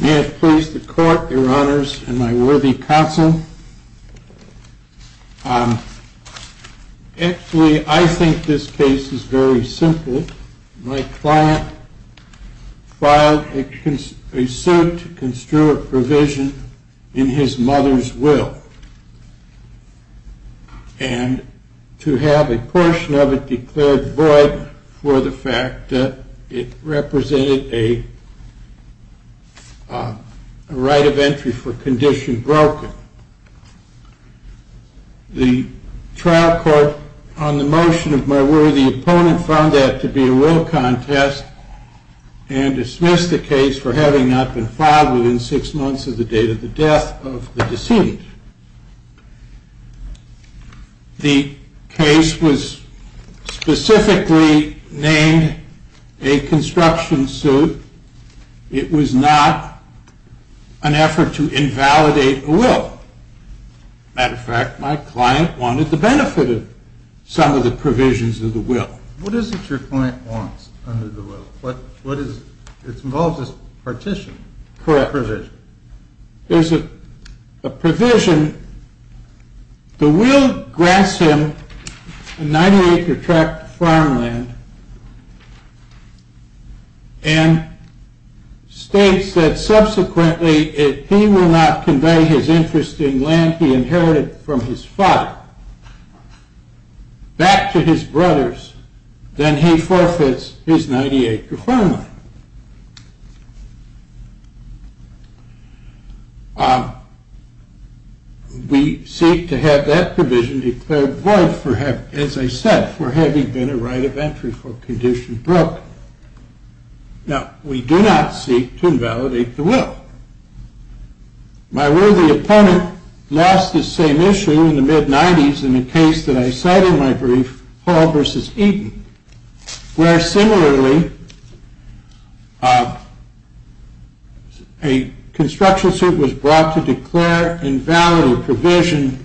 May it please the court, your honors, and my worthy counsel, Actually, I think this case is very simple. My client filed a suit to construe a provision in his mother's will, and to have a portion of it declared void for the fact that it represented a right of entry for condition broken. The trial court on the motion of my worthy opponent found that to be a will contest and dismissed the case for having not been filed within six months of the date of the death of the decedent. The case was specifically named a construction suit. It was not an effort to invalidate a will. As a matter of fact, my client wanted the benefit of some of the provisions of the will. What is it your client wants under the will? It involves a partition, a provision. There is a provision. The will grants him a 90 acre tract of farmland and states that subsequently if he will not convey his interest in land he inherited from his father back to his brothers, then he forfeits his 90 acre farmland. We seek to have that provision declared void, as I said, for having been a right of entry for condition broken. Now, we do not seek to invalidate the will. My worthy opponent lost the same issue in the mid-90s in a case that I cite in my brief, Hall v. Eaton, where similarly a construction suit was brought to declare invalid a provision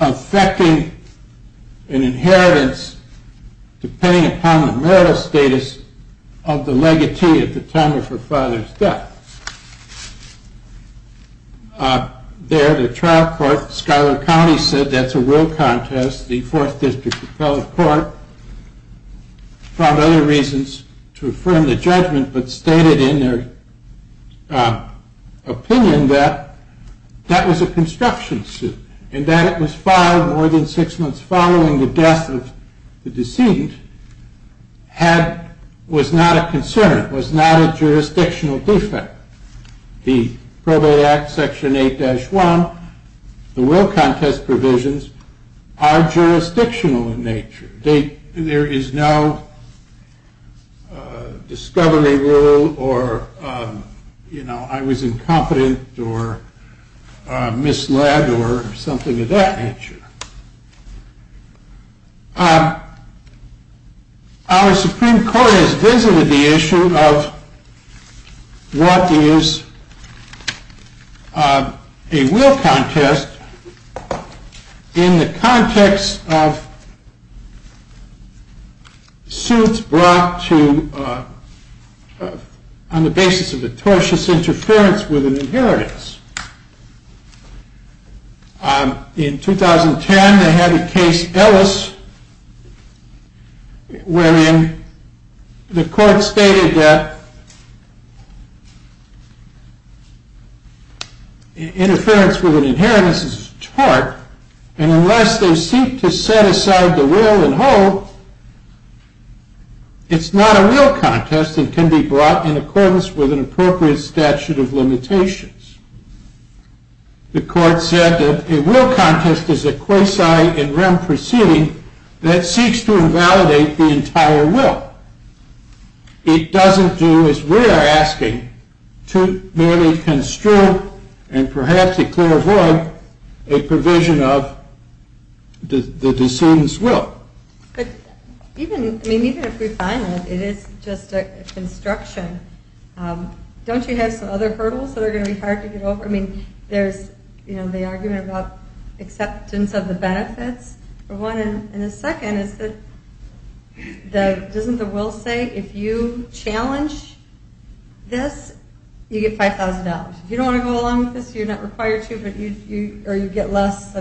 affecting an inheritance depending upon the marital status of the legatee at the time of her father's death. There the trial court, Schuyler County, said that's a real contest. The fourth district appellate court found other reasons to affirm the judgment but stated in their opinion that that was a construction suit and that it was filed more than six months following the death of the decedent was not a concern, was not a jurisdictional defect. The probate act section 8-1, the will contest provisions are jurisdictional in nature. There is no discovery rule or I was incompetent or misled or something of that nature. Our Supreme Court has visited the issue of what is a will contest in the context of suits brought on the basis of a tortious interference with an inheritance. In 2010 they had a case, Ellis, wherein the court stated that interference with an inheritance is a tort and unless they seek to set aside the will and hope, it's not a will contest and can be brought in accordance with an appropriate statute of limitations. The court said that a will contest is a quasi in rem proceeding that seeks to invalidate the entire will. It doesn't do as we are asking to merely construe and perhaps a clear void a provision of the decedent's will. Even if we find it, it is just a construction. Don't you have some other hurdles that are going to be hard to get over? I mean, there's the argument about acceptance of the benefits for one and the second is that doesn't the will say if you challenge this, you get $5,000. If you don't want to go along with this, you're not required to or you get less.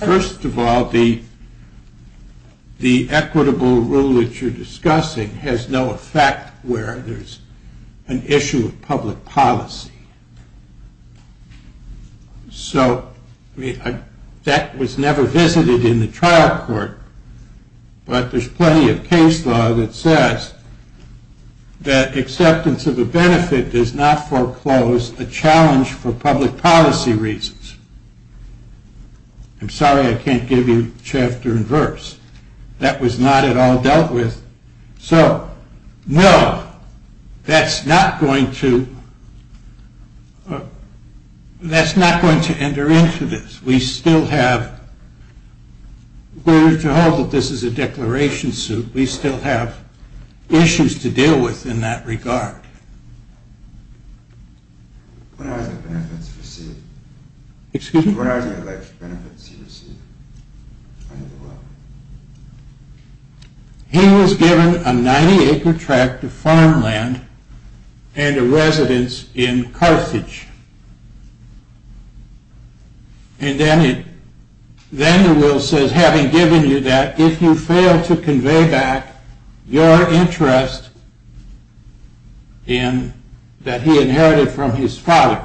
First of all, the equitable rule that you're discussing has no effect where there's an issue of public policy. So, that was never visited in the trial court, but there's plenty of case law that says that acceptance of a benefit does not foreclose a challenge for public policy reasons. I'm sorry I can't give you chapter and verse. That was not at all dealt with. So, no, that's not going to enter into this. We still have issues to deal with in that regard. What are the benefits received? He was given a 90 acre tract of farmland and a residence in Carthage. And then the will says, having given you that, if you fail to convey back your interest that he inherited from his father,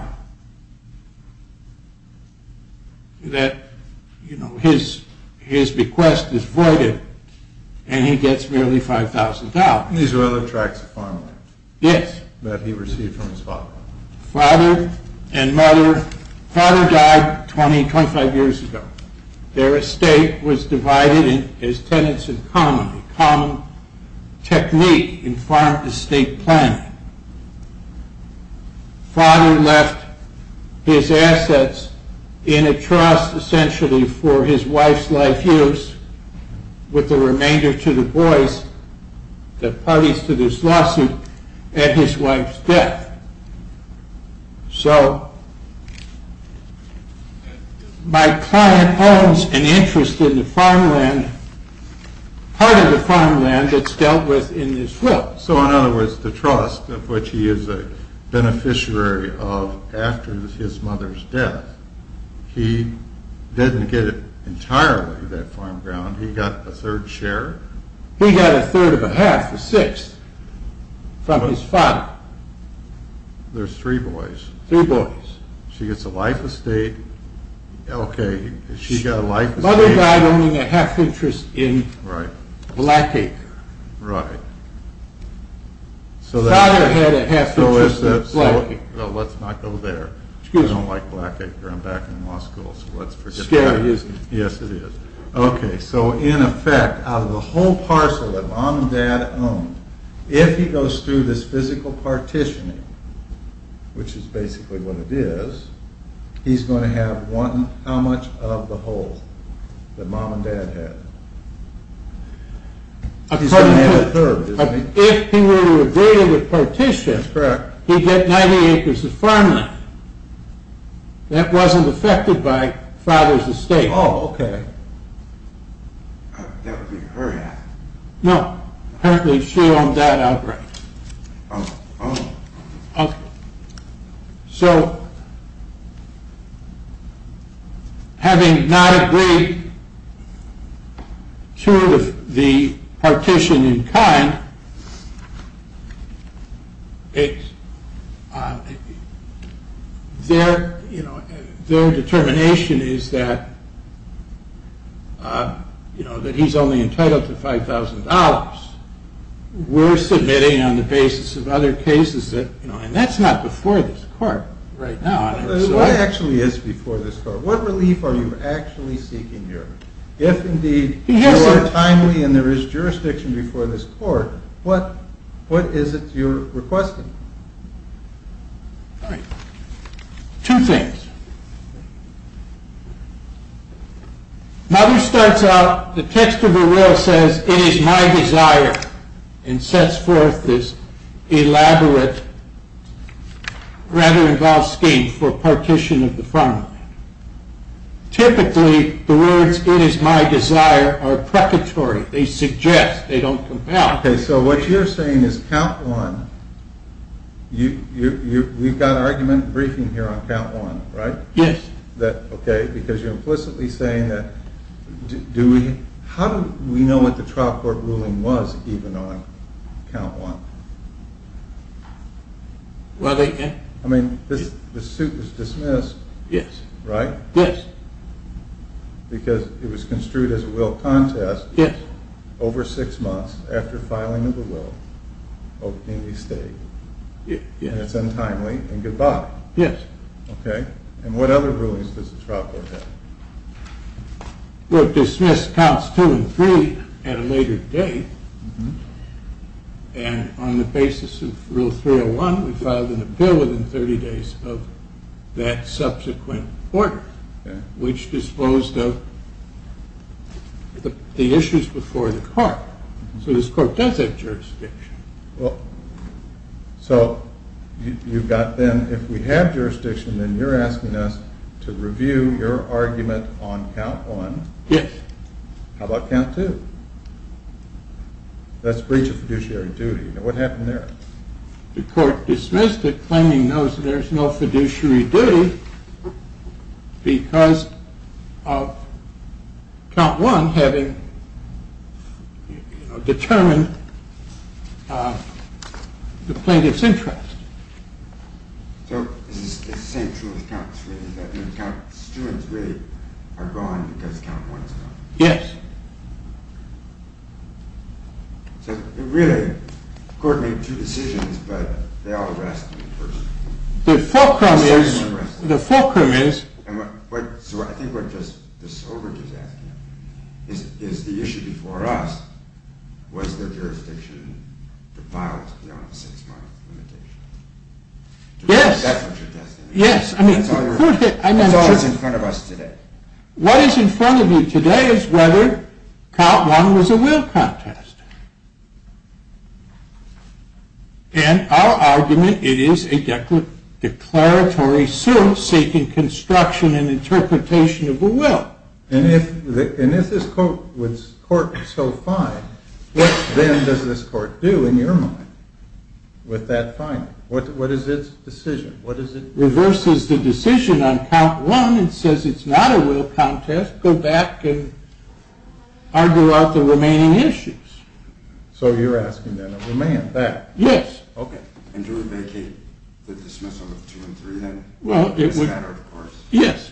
that his bequest is voided and he gets merely $5,000. These are other tracts of farmland. Yes. That he received from his father. So, father and mother, father died 20, 25 years ago. Their estate was divided as tenants in common, a common technique in farm estate planning. Father left his assets in a trust essentially for his wife's life use with the remainder to the boys that parties to this lawsuit at his wife's death. So, my client owns an interest in the farmland, part of the farmland that's dealt with in this will. So, in other words, the trust of which he is a beneficiary of after his mother's death, he didn't get entirely that farmland. He got a third share? He got a third of a half, a sixth, from his father. There's three boys. Three boys. She gets a life estate. Okay. Mother died owning a half interest in Black Acre. Right. Father had a half interest in Black Acre. Let's not go there. I don't like Black Acre. I'm back in law school, so let's forget that. It's scary, isn't it? Yes, it is. Okay, so in effect, out of the whole parcel that mom and dad owned, if he goes through this physical partitioning, which is basically what it is, he's going to have how much of the whole that mom and dad had? He's going to have a third, isn't he? If he were to agree to the partition, he'd get 90 acres of farmland. That wasn't affected by father's estate. Oh, okay. That would be her half. No, apparently she owned that outright. Oh. Okay. So, having not agreed to the partition in kind, their determination is that he's only entitled to $5000. We're submitting on the basis of other cases that, you know, and that's not before this court right now. What actually is before this court? What relief are you actually seeking here? If indeed there are timely and there is jurisdiction before this court, what is it you're requesting? All right. Two things. Mother starts out, the text of her will says, it is my desire, and sets forth this elaborate, rather involved scheme for partition of the farmland. Typically, the words, it is my desire, are precatory. They suggest. They don't come out. Okay, so what you're saying is count one, we've got argument and briefing here on count one, right? Yes. Okay, because you're implicitly saying that, how do we know what the trial court ruling was even on count one? Well, they can. I mean, the suit was dismissed. Yes. Right? Yes. Because it was construed as a will contest. Yes. Over six months after filing of the will, opening the state. Yes. It's untimely and goodbye. Yes. Okay, and what other rulings does the trial court have? Well, it dismissed counts two and three at a later date, and on the basis of rule 301, we filed a bill within 30 days of that subsequent order, which disposed of the issues before the court. So this court does have jurisdiction. So, you've got then, if we have jurisdiction, then you're asking us to review your argument on count one. Yes. How about count two? That's breach of fiduciary duty. What happened there? The court dismissed it, claiming that there is no fiduciary duty because of count one having determined the plaintiff's interest. So, this is the same truth as count three, is that count two and three are gone because count one is gone? Yes. So, really, the court made two decisions, but they all were asked in person. The fulcrum is... So, I think what this overage is asking is, is the issue before us, was there jurisdiction to file beyond the six-month limitation? Yes. That's what you're asking. Yes. That's all that's in front of us today. What is in front of you today is whether count one was a will contest. And our argument, it is a declaratory suit seeking construction and interpretation of a will. And if this court was so fine, what then does this court do, in your mind, with that finding? What is its decision? It reverses the decision on count one and says it's not a will contest. Go back and argue out the remaining issues. So, you're asking that it remain that? Yes. Okay. And do we vacate the dismissal of two and three then? Well, it would... Yes. Yes.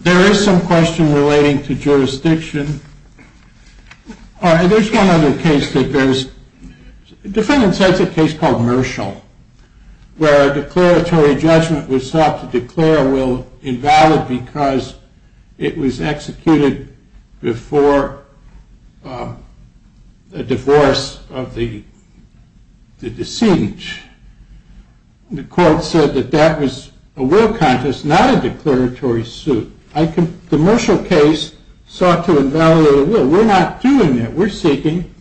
There is some question relating to jurisdiction. There's one other case that goes... The court said that that was a will contest, not a declaratory suit. The Marshall case sought to invalidate a will. We're not doing that. We're seeking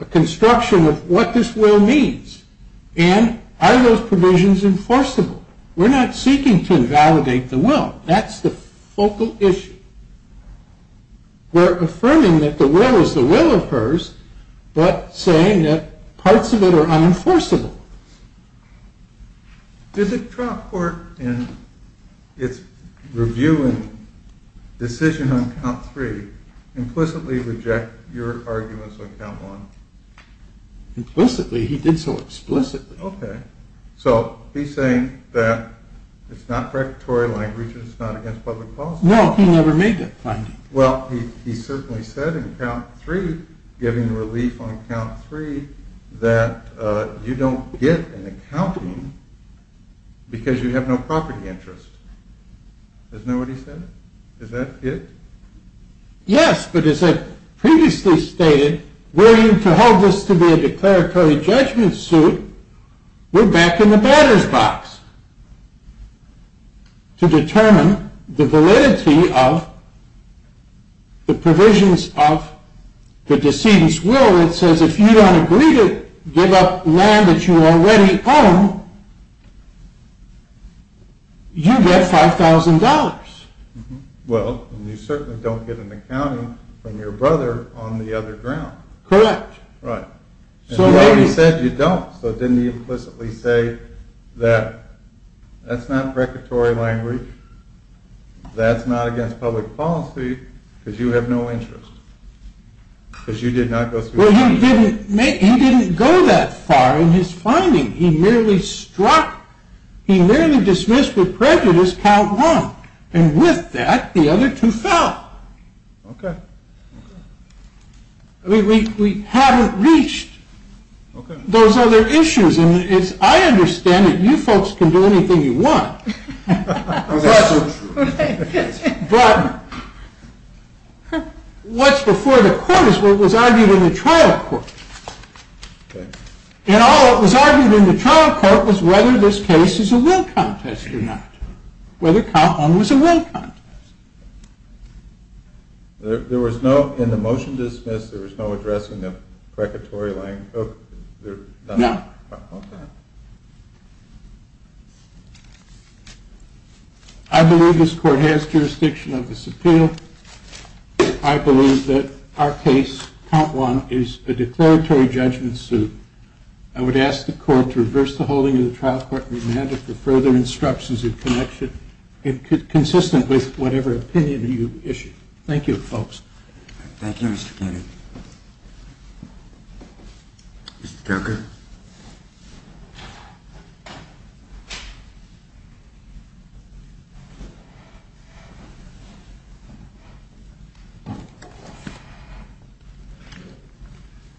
a construction of what this will means. And are those provisions enforceable? We're not seeking to invalidate the will. That's the focal issue. We're affirming that the will is the will of hers, but saying that parts of it are unenforceable. Did the Trump court, in its review and decision on count three, implicitly reject your arguments on count one? Implicitly? He did so explicitly. Okay. So, he's saying that it's not predatory language and it's not against public policy. No, he never made that finding. Well, he certainly said in count three, giving relief on count three, that you don't get an accounting because you have no property interest. Isn't that what he said? Is that it? Yes, but as I previously stated, we're going to hold this to be a declaratory judgment suit. We're back in the batter's box to determine the validity of the provisions of the decedent's will. It says if you don't agree to give up land that you already own, you get $5,000. Well, you certainly don't get an accounting from your brother on the other ground. Correct. You already said you don't, so didn't he implicitly say that that's not predatory language, that's not against public policy, because you have no interest. Well, he didn't go that far in his finding. He merely struck, he merely dismissed with prejudice count one. And with that, the other two fell. Okay. We haven't reached those other issues, and I understand that you folks can do anything you want, but what's before the court is what was argued in the trial court. Okay. And all that was argued in the trial court was whether this case is a will contest or not. Whether count one was a will contest. There was no, in the motion dismissed, there was no addressing of predatory language? No. Okay. I believe this court has jurisdiction of this appeal. I believe that our case, count one, is a declaratory judgment suit. I would ask the court to reverse the holding of the trial court remanded for further instructions in connection, consistent with whatever opinion you issue. Thank you, folks. Thank you, Mr. Kennedy. Thank you, Mr. Kennedy. Mr. Tucker.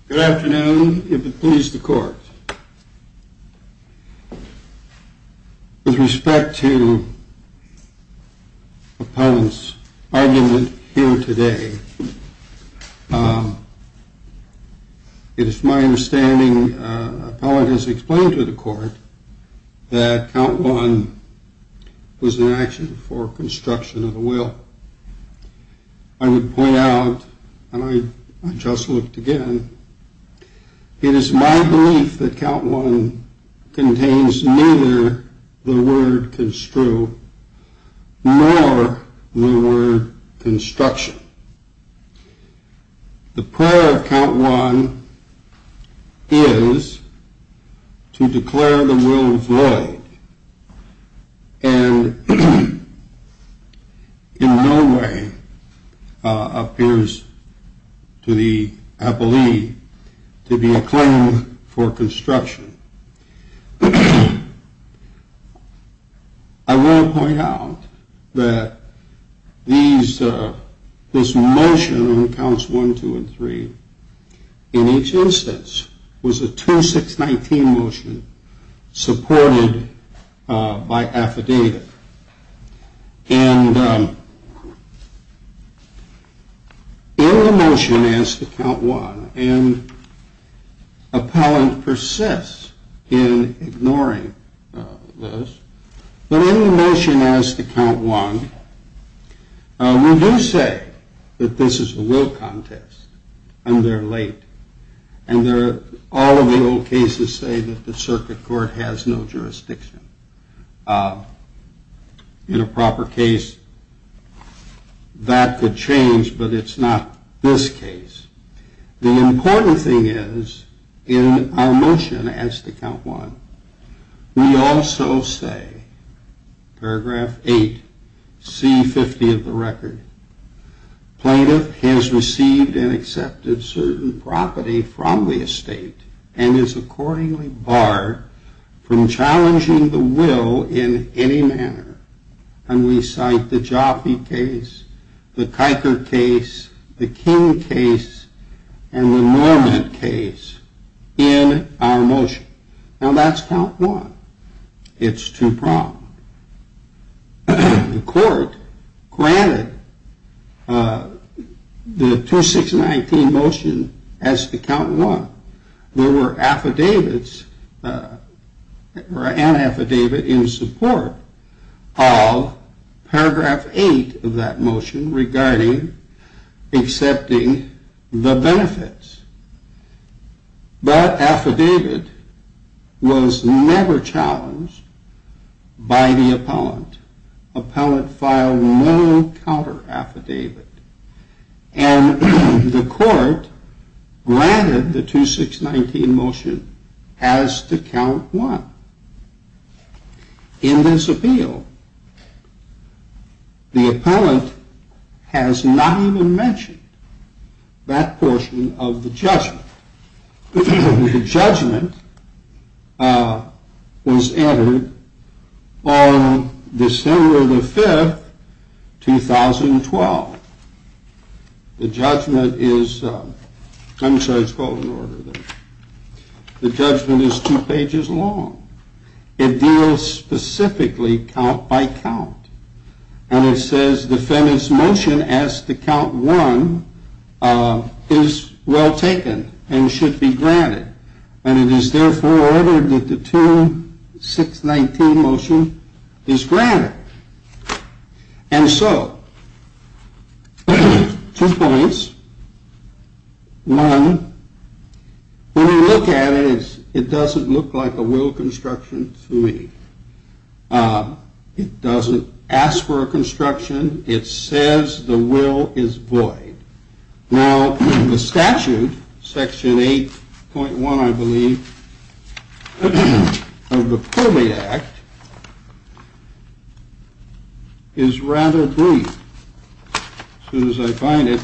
Good afternoon, if it please the court. With respect to Appellant's argument here today, it is my understanding, Appellant has explained to the court, that count one was an action for construction of a will. I would point out, and I just looked again, it is my belief that count one contains neither the word construe nor the word construction. The prayer of count one is to declare the will void and in no way appears to the appellee to be a claim for construction. I will point out that this motion on counts one, two, and three, in each instance, was a 2-6-19 motion supported by affidavit. In the motion as to count one, and Appellant persists in ignoring this, but in the motion as to count one, we do say that this is a will contest and they are late. All of the old cases say that the circuit court has no jurisdiction. In a proper case, that could change, but it's not this case. The important thing is, in our motion as to count one, we also say, paragraph eight, C-50 of the record, Plaintiff has received and accepted certain property from the estate and is accordingly barred from challenging the will in any manner, and we cite the Jaffe case, the Kiker case, the King case, and the Norman case in our motion. Now that's count one. It's two problems. The court granted the 2-6-19 motion as to count one. There were affidavits, or an affidavit, in support of paragraph eight of that motion regarding accepting the benefits. That affidavit was never challenged by the appellant. Appellant filed no counter affidavit, and the court granted the 2-6-19 motion as to count one. In this appeal, the appellant has not even mentioned that portion of the judgment. The judgment was entered on December the 5th, 2012. The judgment is two pages long. It deals specifically count by count, and it says defendant's motion as to count one is well taken and should be granted, and it is therefore ordered that the 2-6-19 motion is granted. And so, two points. One, when you look at it, it doesn't look like a will construction to me. It doesn't ask for a construction. It says the will is void. Now, the statute, section 8.1, I believe, of the Pulley Act, is rather brief. As soon as I find it,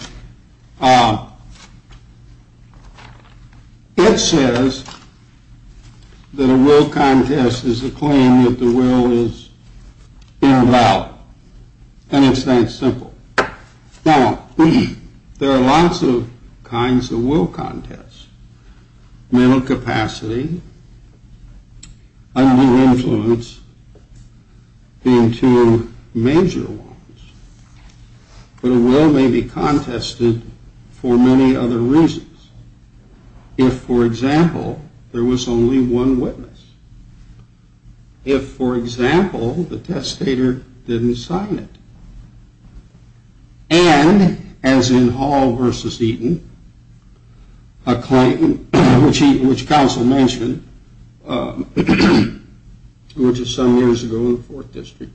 it says that a will contest is a claim that the will is invalid, and it's that simple. Now, there are lots of kinds of will contests. Mental capacity, undue influence being two major ones. But a will may be contested for many other reasons. If, for example, there was only one witness. If, for example, the testator didn't sign it. And, as in Hall v. Eaton, a claim which counsel mentioned, which is some years ago in the Fourth District.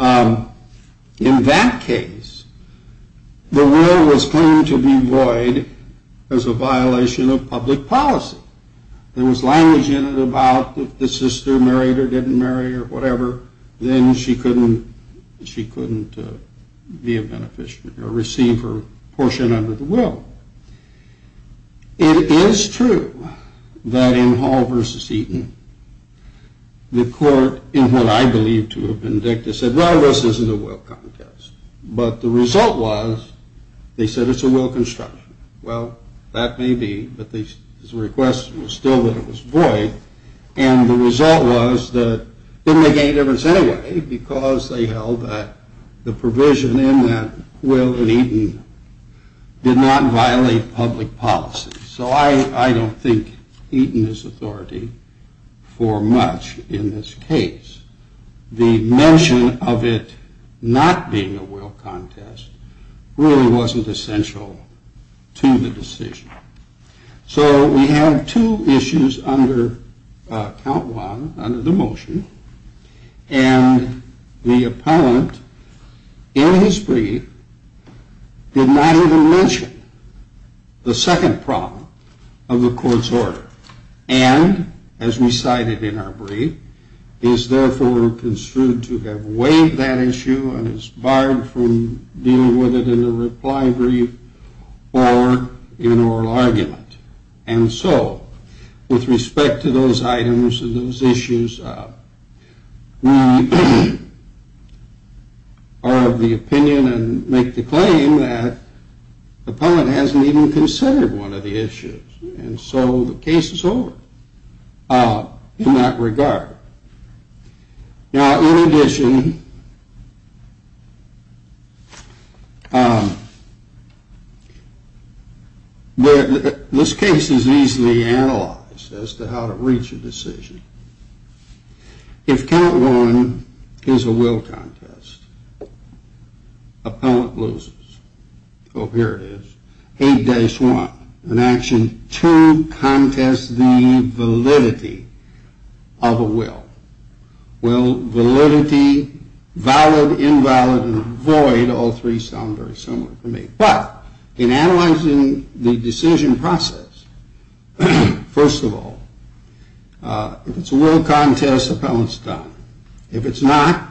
In that case, the will was claimed to be void as a violation of public policy. There was language in it about if the sister married or didn't marry or whatever, then she couldn't be a beneficiary or receive her portion under the will. It is true that in Hall v. Eaton, the court, in what I believe to have been dictated, said, well, this isn't a will contest. But the result was, they said it's a will construction. Well, that may be, but the request was still that it was void. And the result was that it didn't make any difference anyway, because they held that the provision in that will in Eaton did not violate public policy. So I don't think Eaton is authority for much in this case. The mention of it not being a will contest really wasn't essential to the decision. So we have two issues under count one, under the motion. And the appellant, in his brief, did not even mention the second problem of the court's order. And, as recited in our brief, is therefore construed to have weighed that issue and is barred from dealing with it in a reply brief or in oral argument. And so, with respect to those items and those issues, we are of the opinion and make the claim that the appellant hasn't even considered one of the issues. And so the case is over in that regard. Now, in addition, this case is easily analyzed as to how to reach a decision. If count one is a will contest, appellant loses. Oh, here it is. Eight dice, one. In action, two contests the validity of a will. Will validity, valid, invalid, and void, all three sound very similar to me. But in analyzing the decision process, first of all, if it's a will contest, appellant's done. If it's not,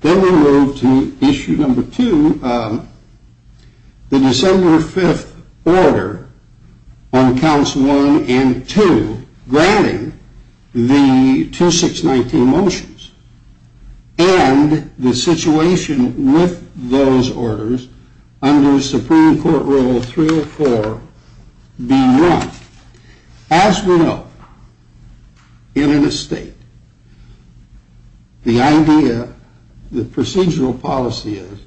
then we move to issue number two, the December 5th order on counts one and two, granting the 2619 motions and the situation with those orders under Supreme Court Rule 304 be run. As we know, in an estate, the idea, the procedural policy is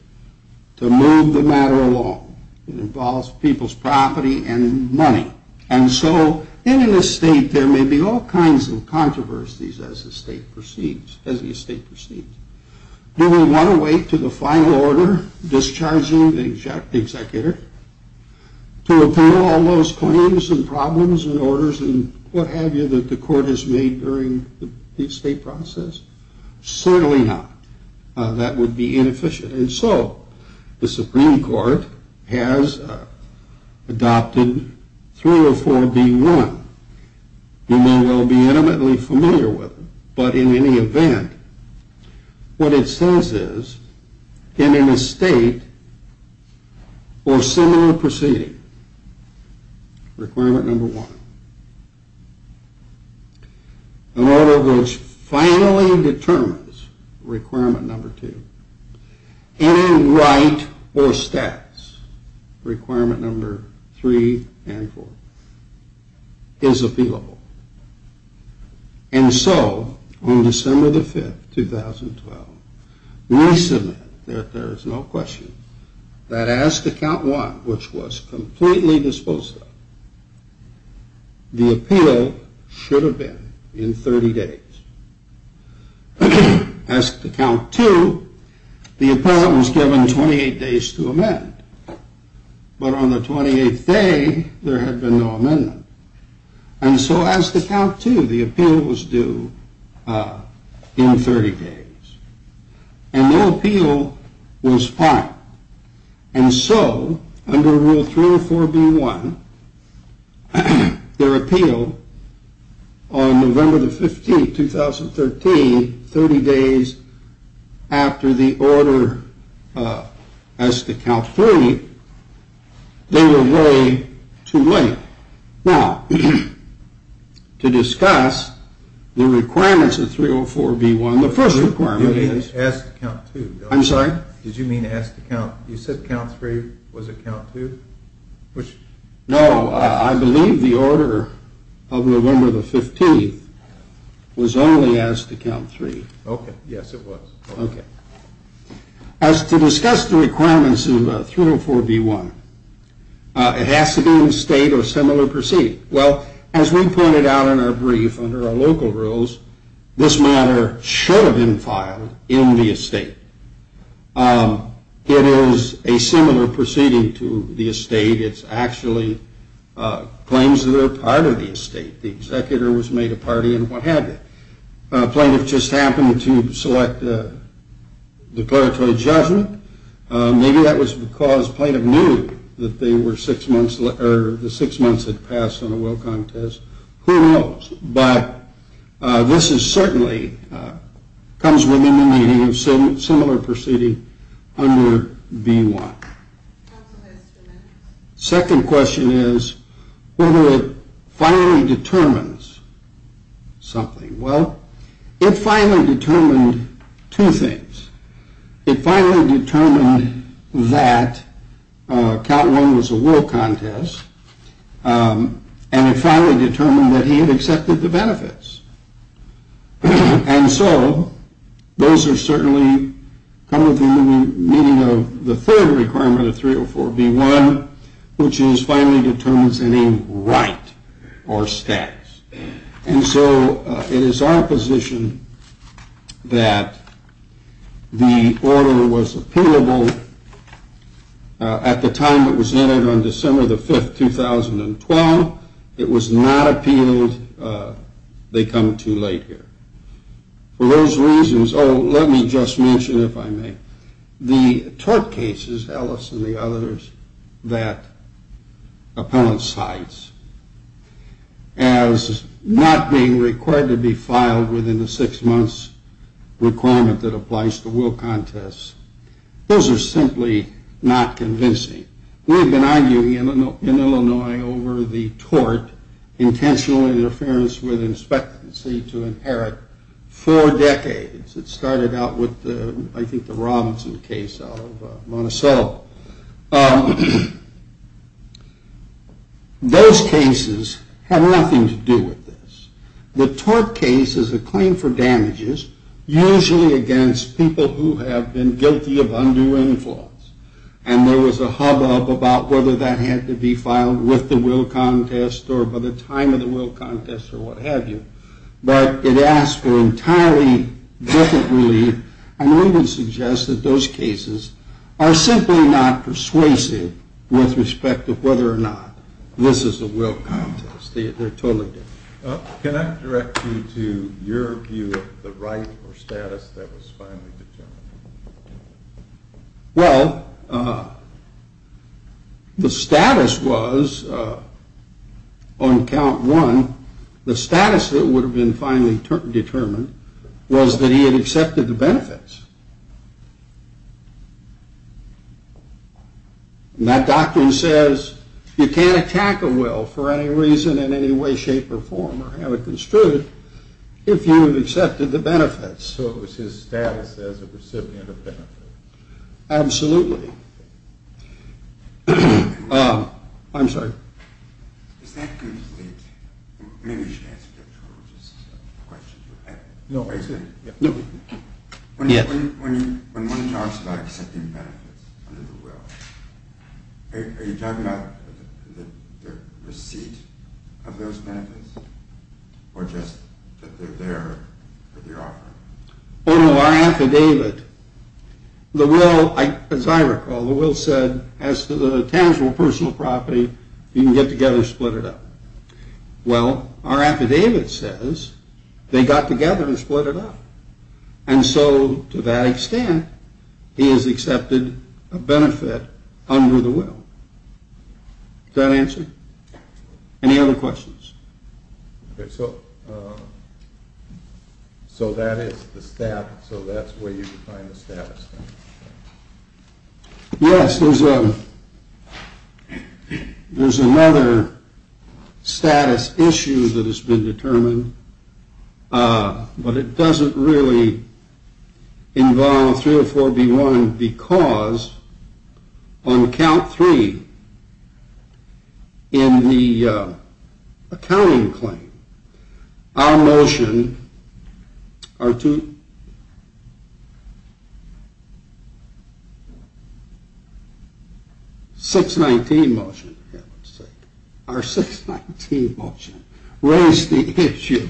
to move the matter along. It involves people's property and money. And so in an estate, there may be all kinds of controversies as the estate proceeds. Do we want to wait to the final order discharging the executor to appeal all those claims and problems and orders and what have you that the court has made during the estate process? Certainly not. That would be inefficient. And so the Supreme Court has adopted 304 be run. You may well be intimately familiar with it. But in any event, what it says is, in an estate or similar proceeding, requirement number one, an order which finally determines requirement number two, any right or status, requirement number three and four, is appealable. And so on December 5th, 2012, we submit that there is no question that as to count one, which was completely disposed of, the appeal should have been in 30 days. As to count two, the appellant was given 28 days to amend. But on the 28th day, there had been no amendment. And so as to count two, the appeal was due in 30 days. And no appeal was filed. And so under rule 304 be one, their appeal on November the 15th, 2013, 30 days after the order as to count three, they were way too late. Now, to discuss the requirements of 304 be one, the first requirement is. As to count two. I'm sorry? Did you mean as to count? You said count three. Was it count two? No. I believe the order of November the 15th was only as to count three. Okay. Yes, it was. Okay. As to discuss the requirements of 304 be one, it has to be in a state or similar proceeding. Well, as we pointed out in our brief under our local rules, this matter should have been filed in the estate. It is a similar proceeding to the estate. It's actually claims that are part of the estate. The executor was made a party and what have you. A plaintiff just happened to select a declaratory judgment. Maybe that was because plaintiff knew that they were six months or the six months had passed on a will contest. Who knows? But this is certainly comes within the meaning of similar proceeding under be one. Second question is whether it finally determines something. Well, it finally determined two things. It finally determined that count one was a will contest. And it finally determined that he had accepted the benefits. And so those are certainly come within the meaning of the third requirement of 304 be one, which is finally determines any right or status. And so it is our position that the order was appealable at the time it was entered on December the 5th, 2012. It was not appealed. They come too late here for those reasons. Oh, let me just mention, if I may. The tort cases, Ellis and the others, that appellant cites as not being required to be filed within the six months requirement that applies to will contests, those are simply not convincing. We've been arguing in Illinois over the tort, intentional interference with inspectancy to inherit for decades. It started out with, I think, the Robinson case out of Monticello. Those cases have nothing to do with this. The tort case is a claim for damages, usually against people who have been guilty of undue influence. And there was a hubbub about whether that had to be filed with the will contest or by the time of the will contest or what have you. But it asks for entirely different relief. And I would suggest that those cases are simply not persuasive with respect to whether or not this is a will contest. They're totally different. Can I direct you to your view of the right or status that was finally determined? Well, the status was, on count one, the status that would have been finally determined was that he had accepted the benefits. And that doctrine says you can't attack a will for any reason in any way, shape, or form or have it construed if you have accepted the benefits. So it was his status as a recipient of benefits. Absolutely. I'm sorry. Is that complete? Maybe you should answer the question. No. When one talks about accepting benefits under the will, are you talking about the receipt of those benefits? Or just that they're there for the offer? Oh, no. Our affidavit, the will, as I recall, the will said as to the tangible personal property, you can get together and split it up. Well, our affidavit says they got together and split it up. And so to that extent, he has accepted a benefit under the will. Does that answer? Any other questions? Okay, so that is the status. So that's where you define the status. Yes, there's another status issue that has been determined, but it doesn't really involve 304B1 because on count three in the accounting claim, our motion, our 619 motion raised the issue,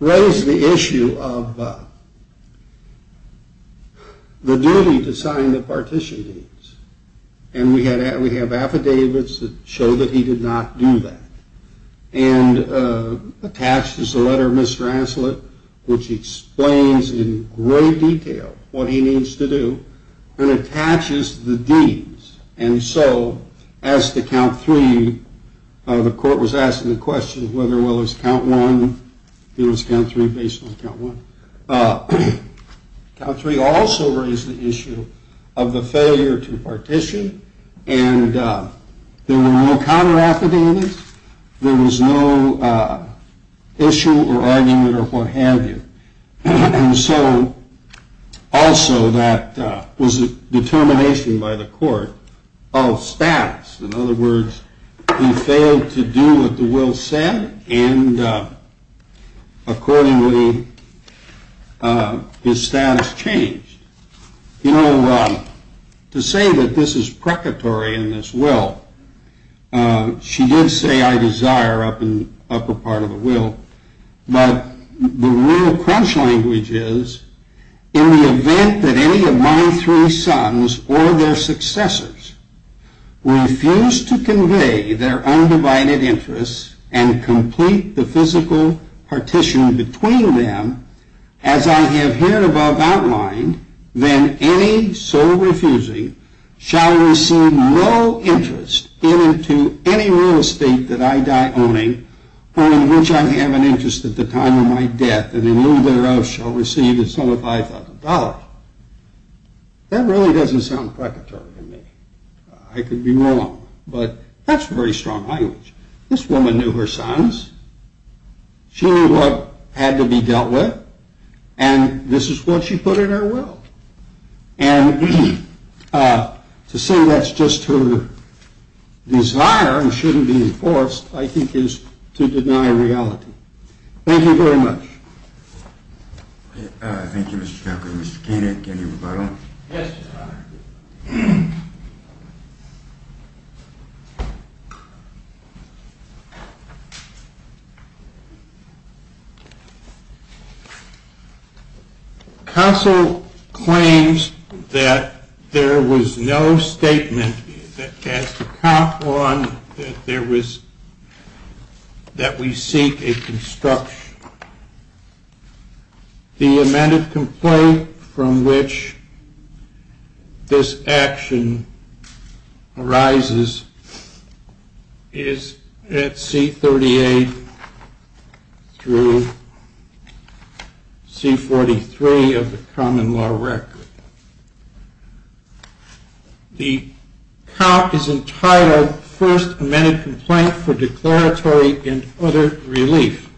raised the issue of the duty to sign the partition deeds. And we have affidavits that show that he did not do that. And attached is the letter of Mr. Ancelet, which explains in great detail what he needs to do, and attaches the deeds. And so as to count three, the court was asking the question whether or not it was count one, it was count three based on count one. Count three also raised the issue of the failure to partition, and there were no counter affidavits. There was no issue or argument or what have you. And so also that was a determination by the court of status. In other words, he failed to do what the will said, and accordingly his status changed. You know, to say that this is precatory in this will, she did say I desire up in the upper part of the will, but the real crunch language is, in the event that any of my three sons or their successors refuse to convey their undivided interests and complete the physical partition between them, as I have here above outlined, then any so refusing shall receive no interest given to any real estate that I die owning, or in which I have an interest at the time of my death, and any thereof shall receive a sum of $5,000. That really doesn't sound precatory to me. I could be wrong, but that's very strong language. This woman knew her sons. She knew what had to be dealt with, and this is what she put in her will. And to say that's just her desire and shouldn't be enforced, I think, is to deny reality. Thank you very much. Thank you, Mr. Chaplain. Mr. Koenig, any rebuttal? Yes, Your Honor. Counsel claims that there was no statement that has to count on that we seek a construction. The amended complaint from which this action arises is at C38 through C43 of the common law record. The count is entitled First Amended Complaint for Declaratory and Other Relief.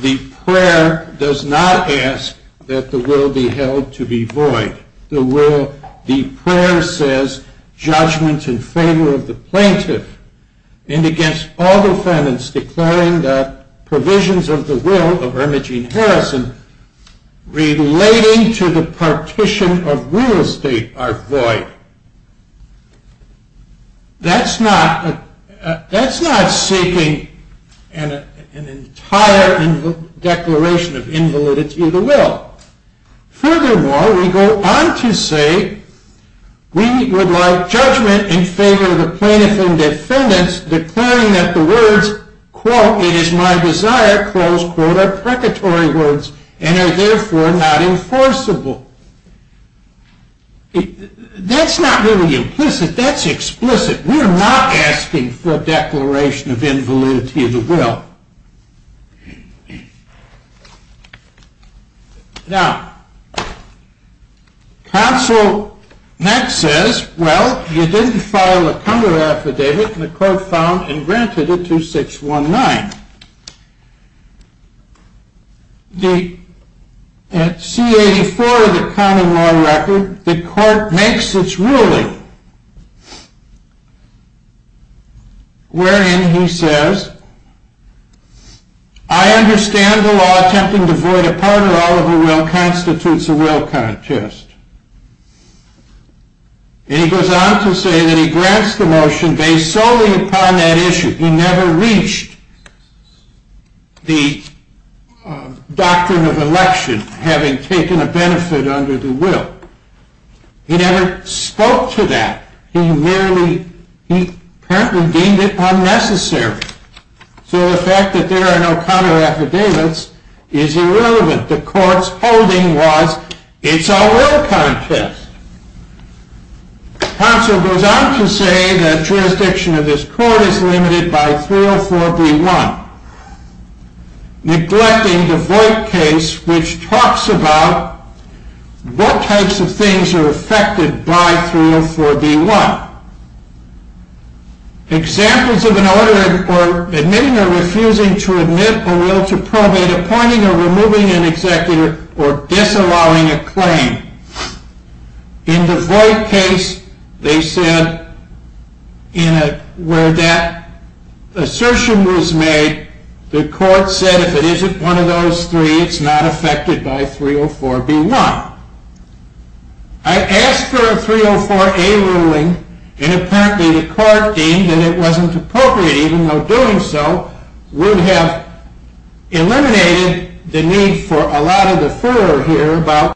The prayer does not ask that the will be held to be void. The prayer says, judgment in favor of the plaintiff and against all defendants declaring that provisions of the will of Irma Jean Harrison relating to the partition of real estate are void. That's not seeking an entire declaration of invalidity of the will. Furthermore, we go on to say we would like judgment in favor of the plaintiff and defendants declaring that the words, quote, it is my desire, close quote, are precatory words and are therefore not enforceable. That's not really implicit. That's explicit. We are not asking for a declaration of invalidity of the will. Now, counsel next says, well, you didn't file a cumber affidavit and the court found and granted it to 619. At C84 of the common law record, the court makes its ruling wherein he says, I understand the law attempting to void a part or all of a will constitutes a will contest. And he goes on to say that he grants the motion based solely upon that issue. He never reached the doctrine of election having taken a benefit under the will. He never spoke to that. He merely, he apparently deemed it unnecessary. So the fact that there are no cumber affidavits is irrelevant. The court's holding was it's a will contest. Counsel goes on to say that jurisdiction of this court is limited by 304B1, neglecting the void case which talks about what types of things are affected by 304B1. Examples of an order in court admitting or refusing to admit a will to probate, appointing or removing an executor, or disallowing a claim. In the void case, they said, where that assertion was made, the court said if it isn't one of those three, it's not affected by 304B1. I asked for a 304A ruling and apparently the court deemed that it wasn't appropriate, even though doing so would have eliminated the need for a lot of the furor here.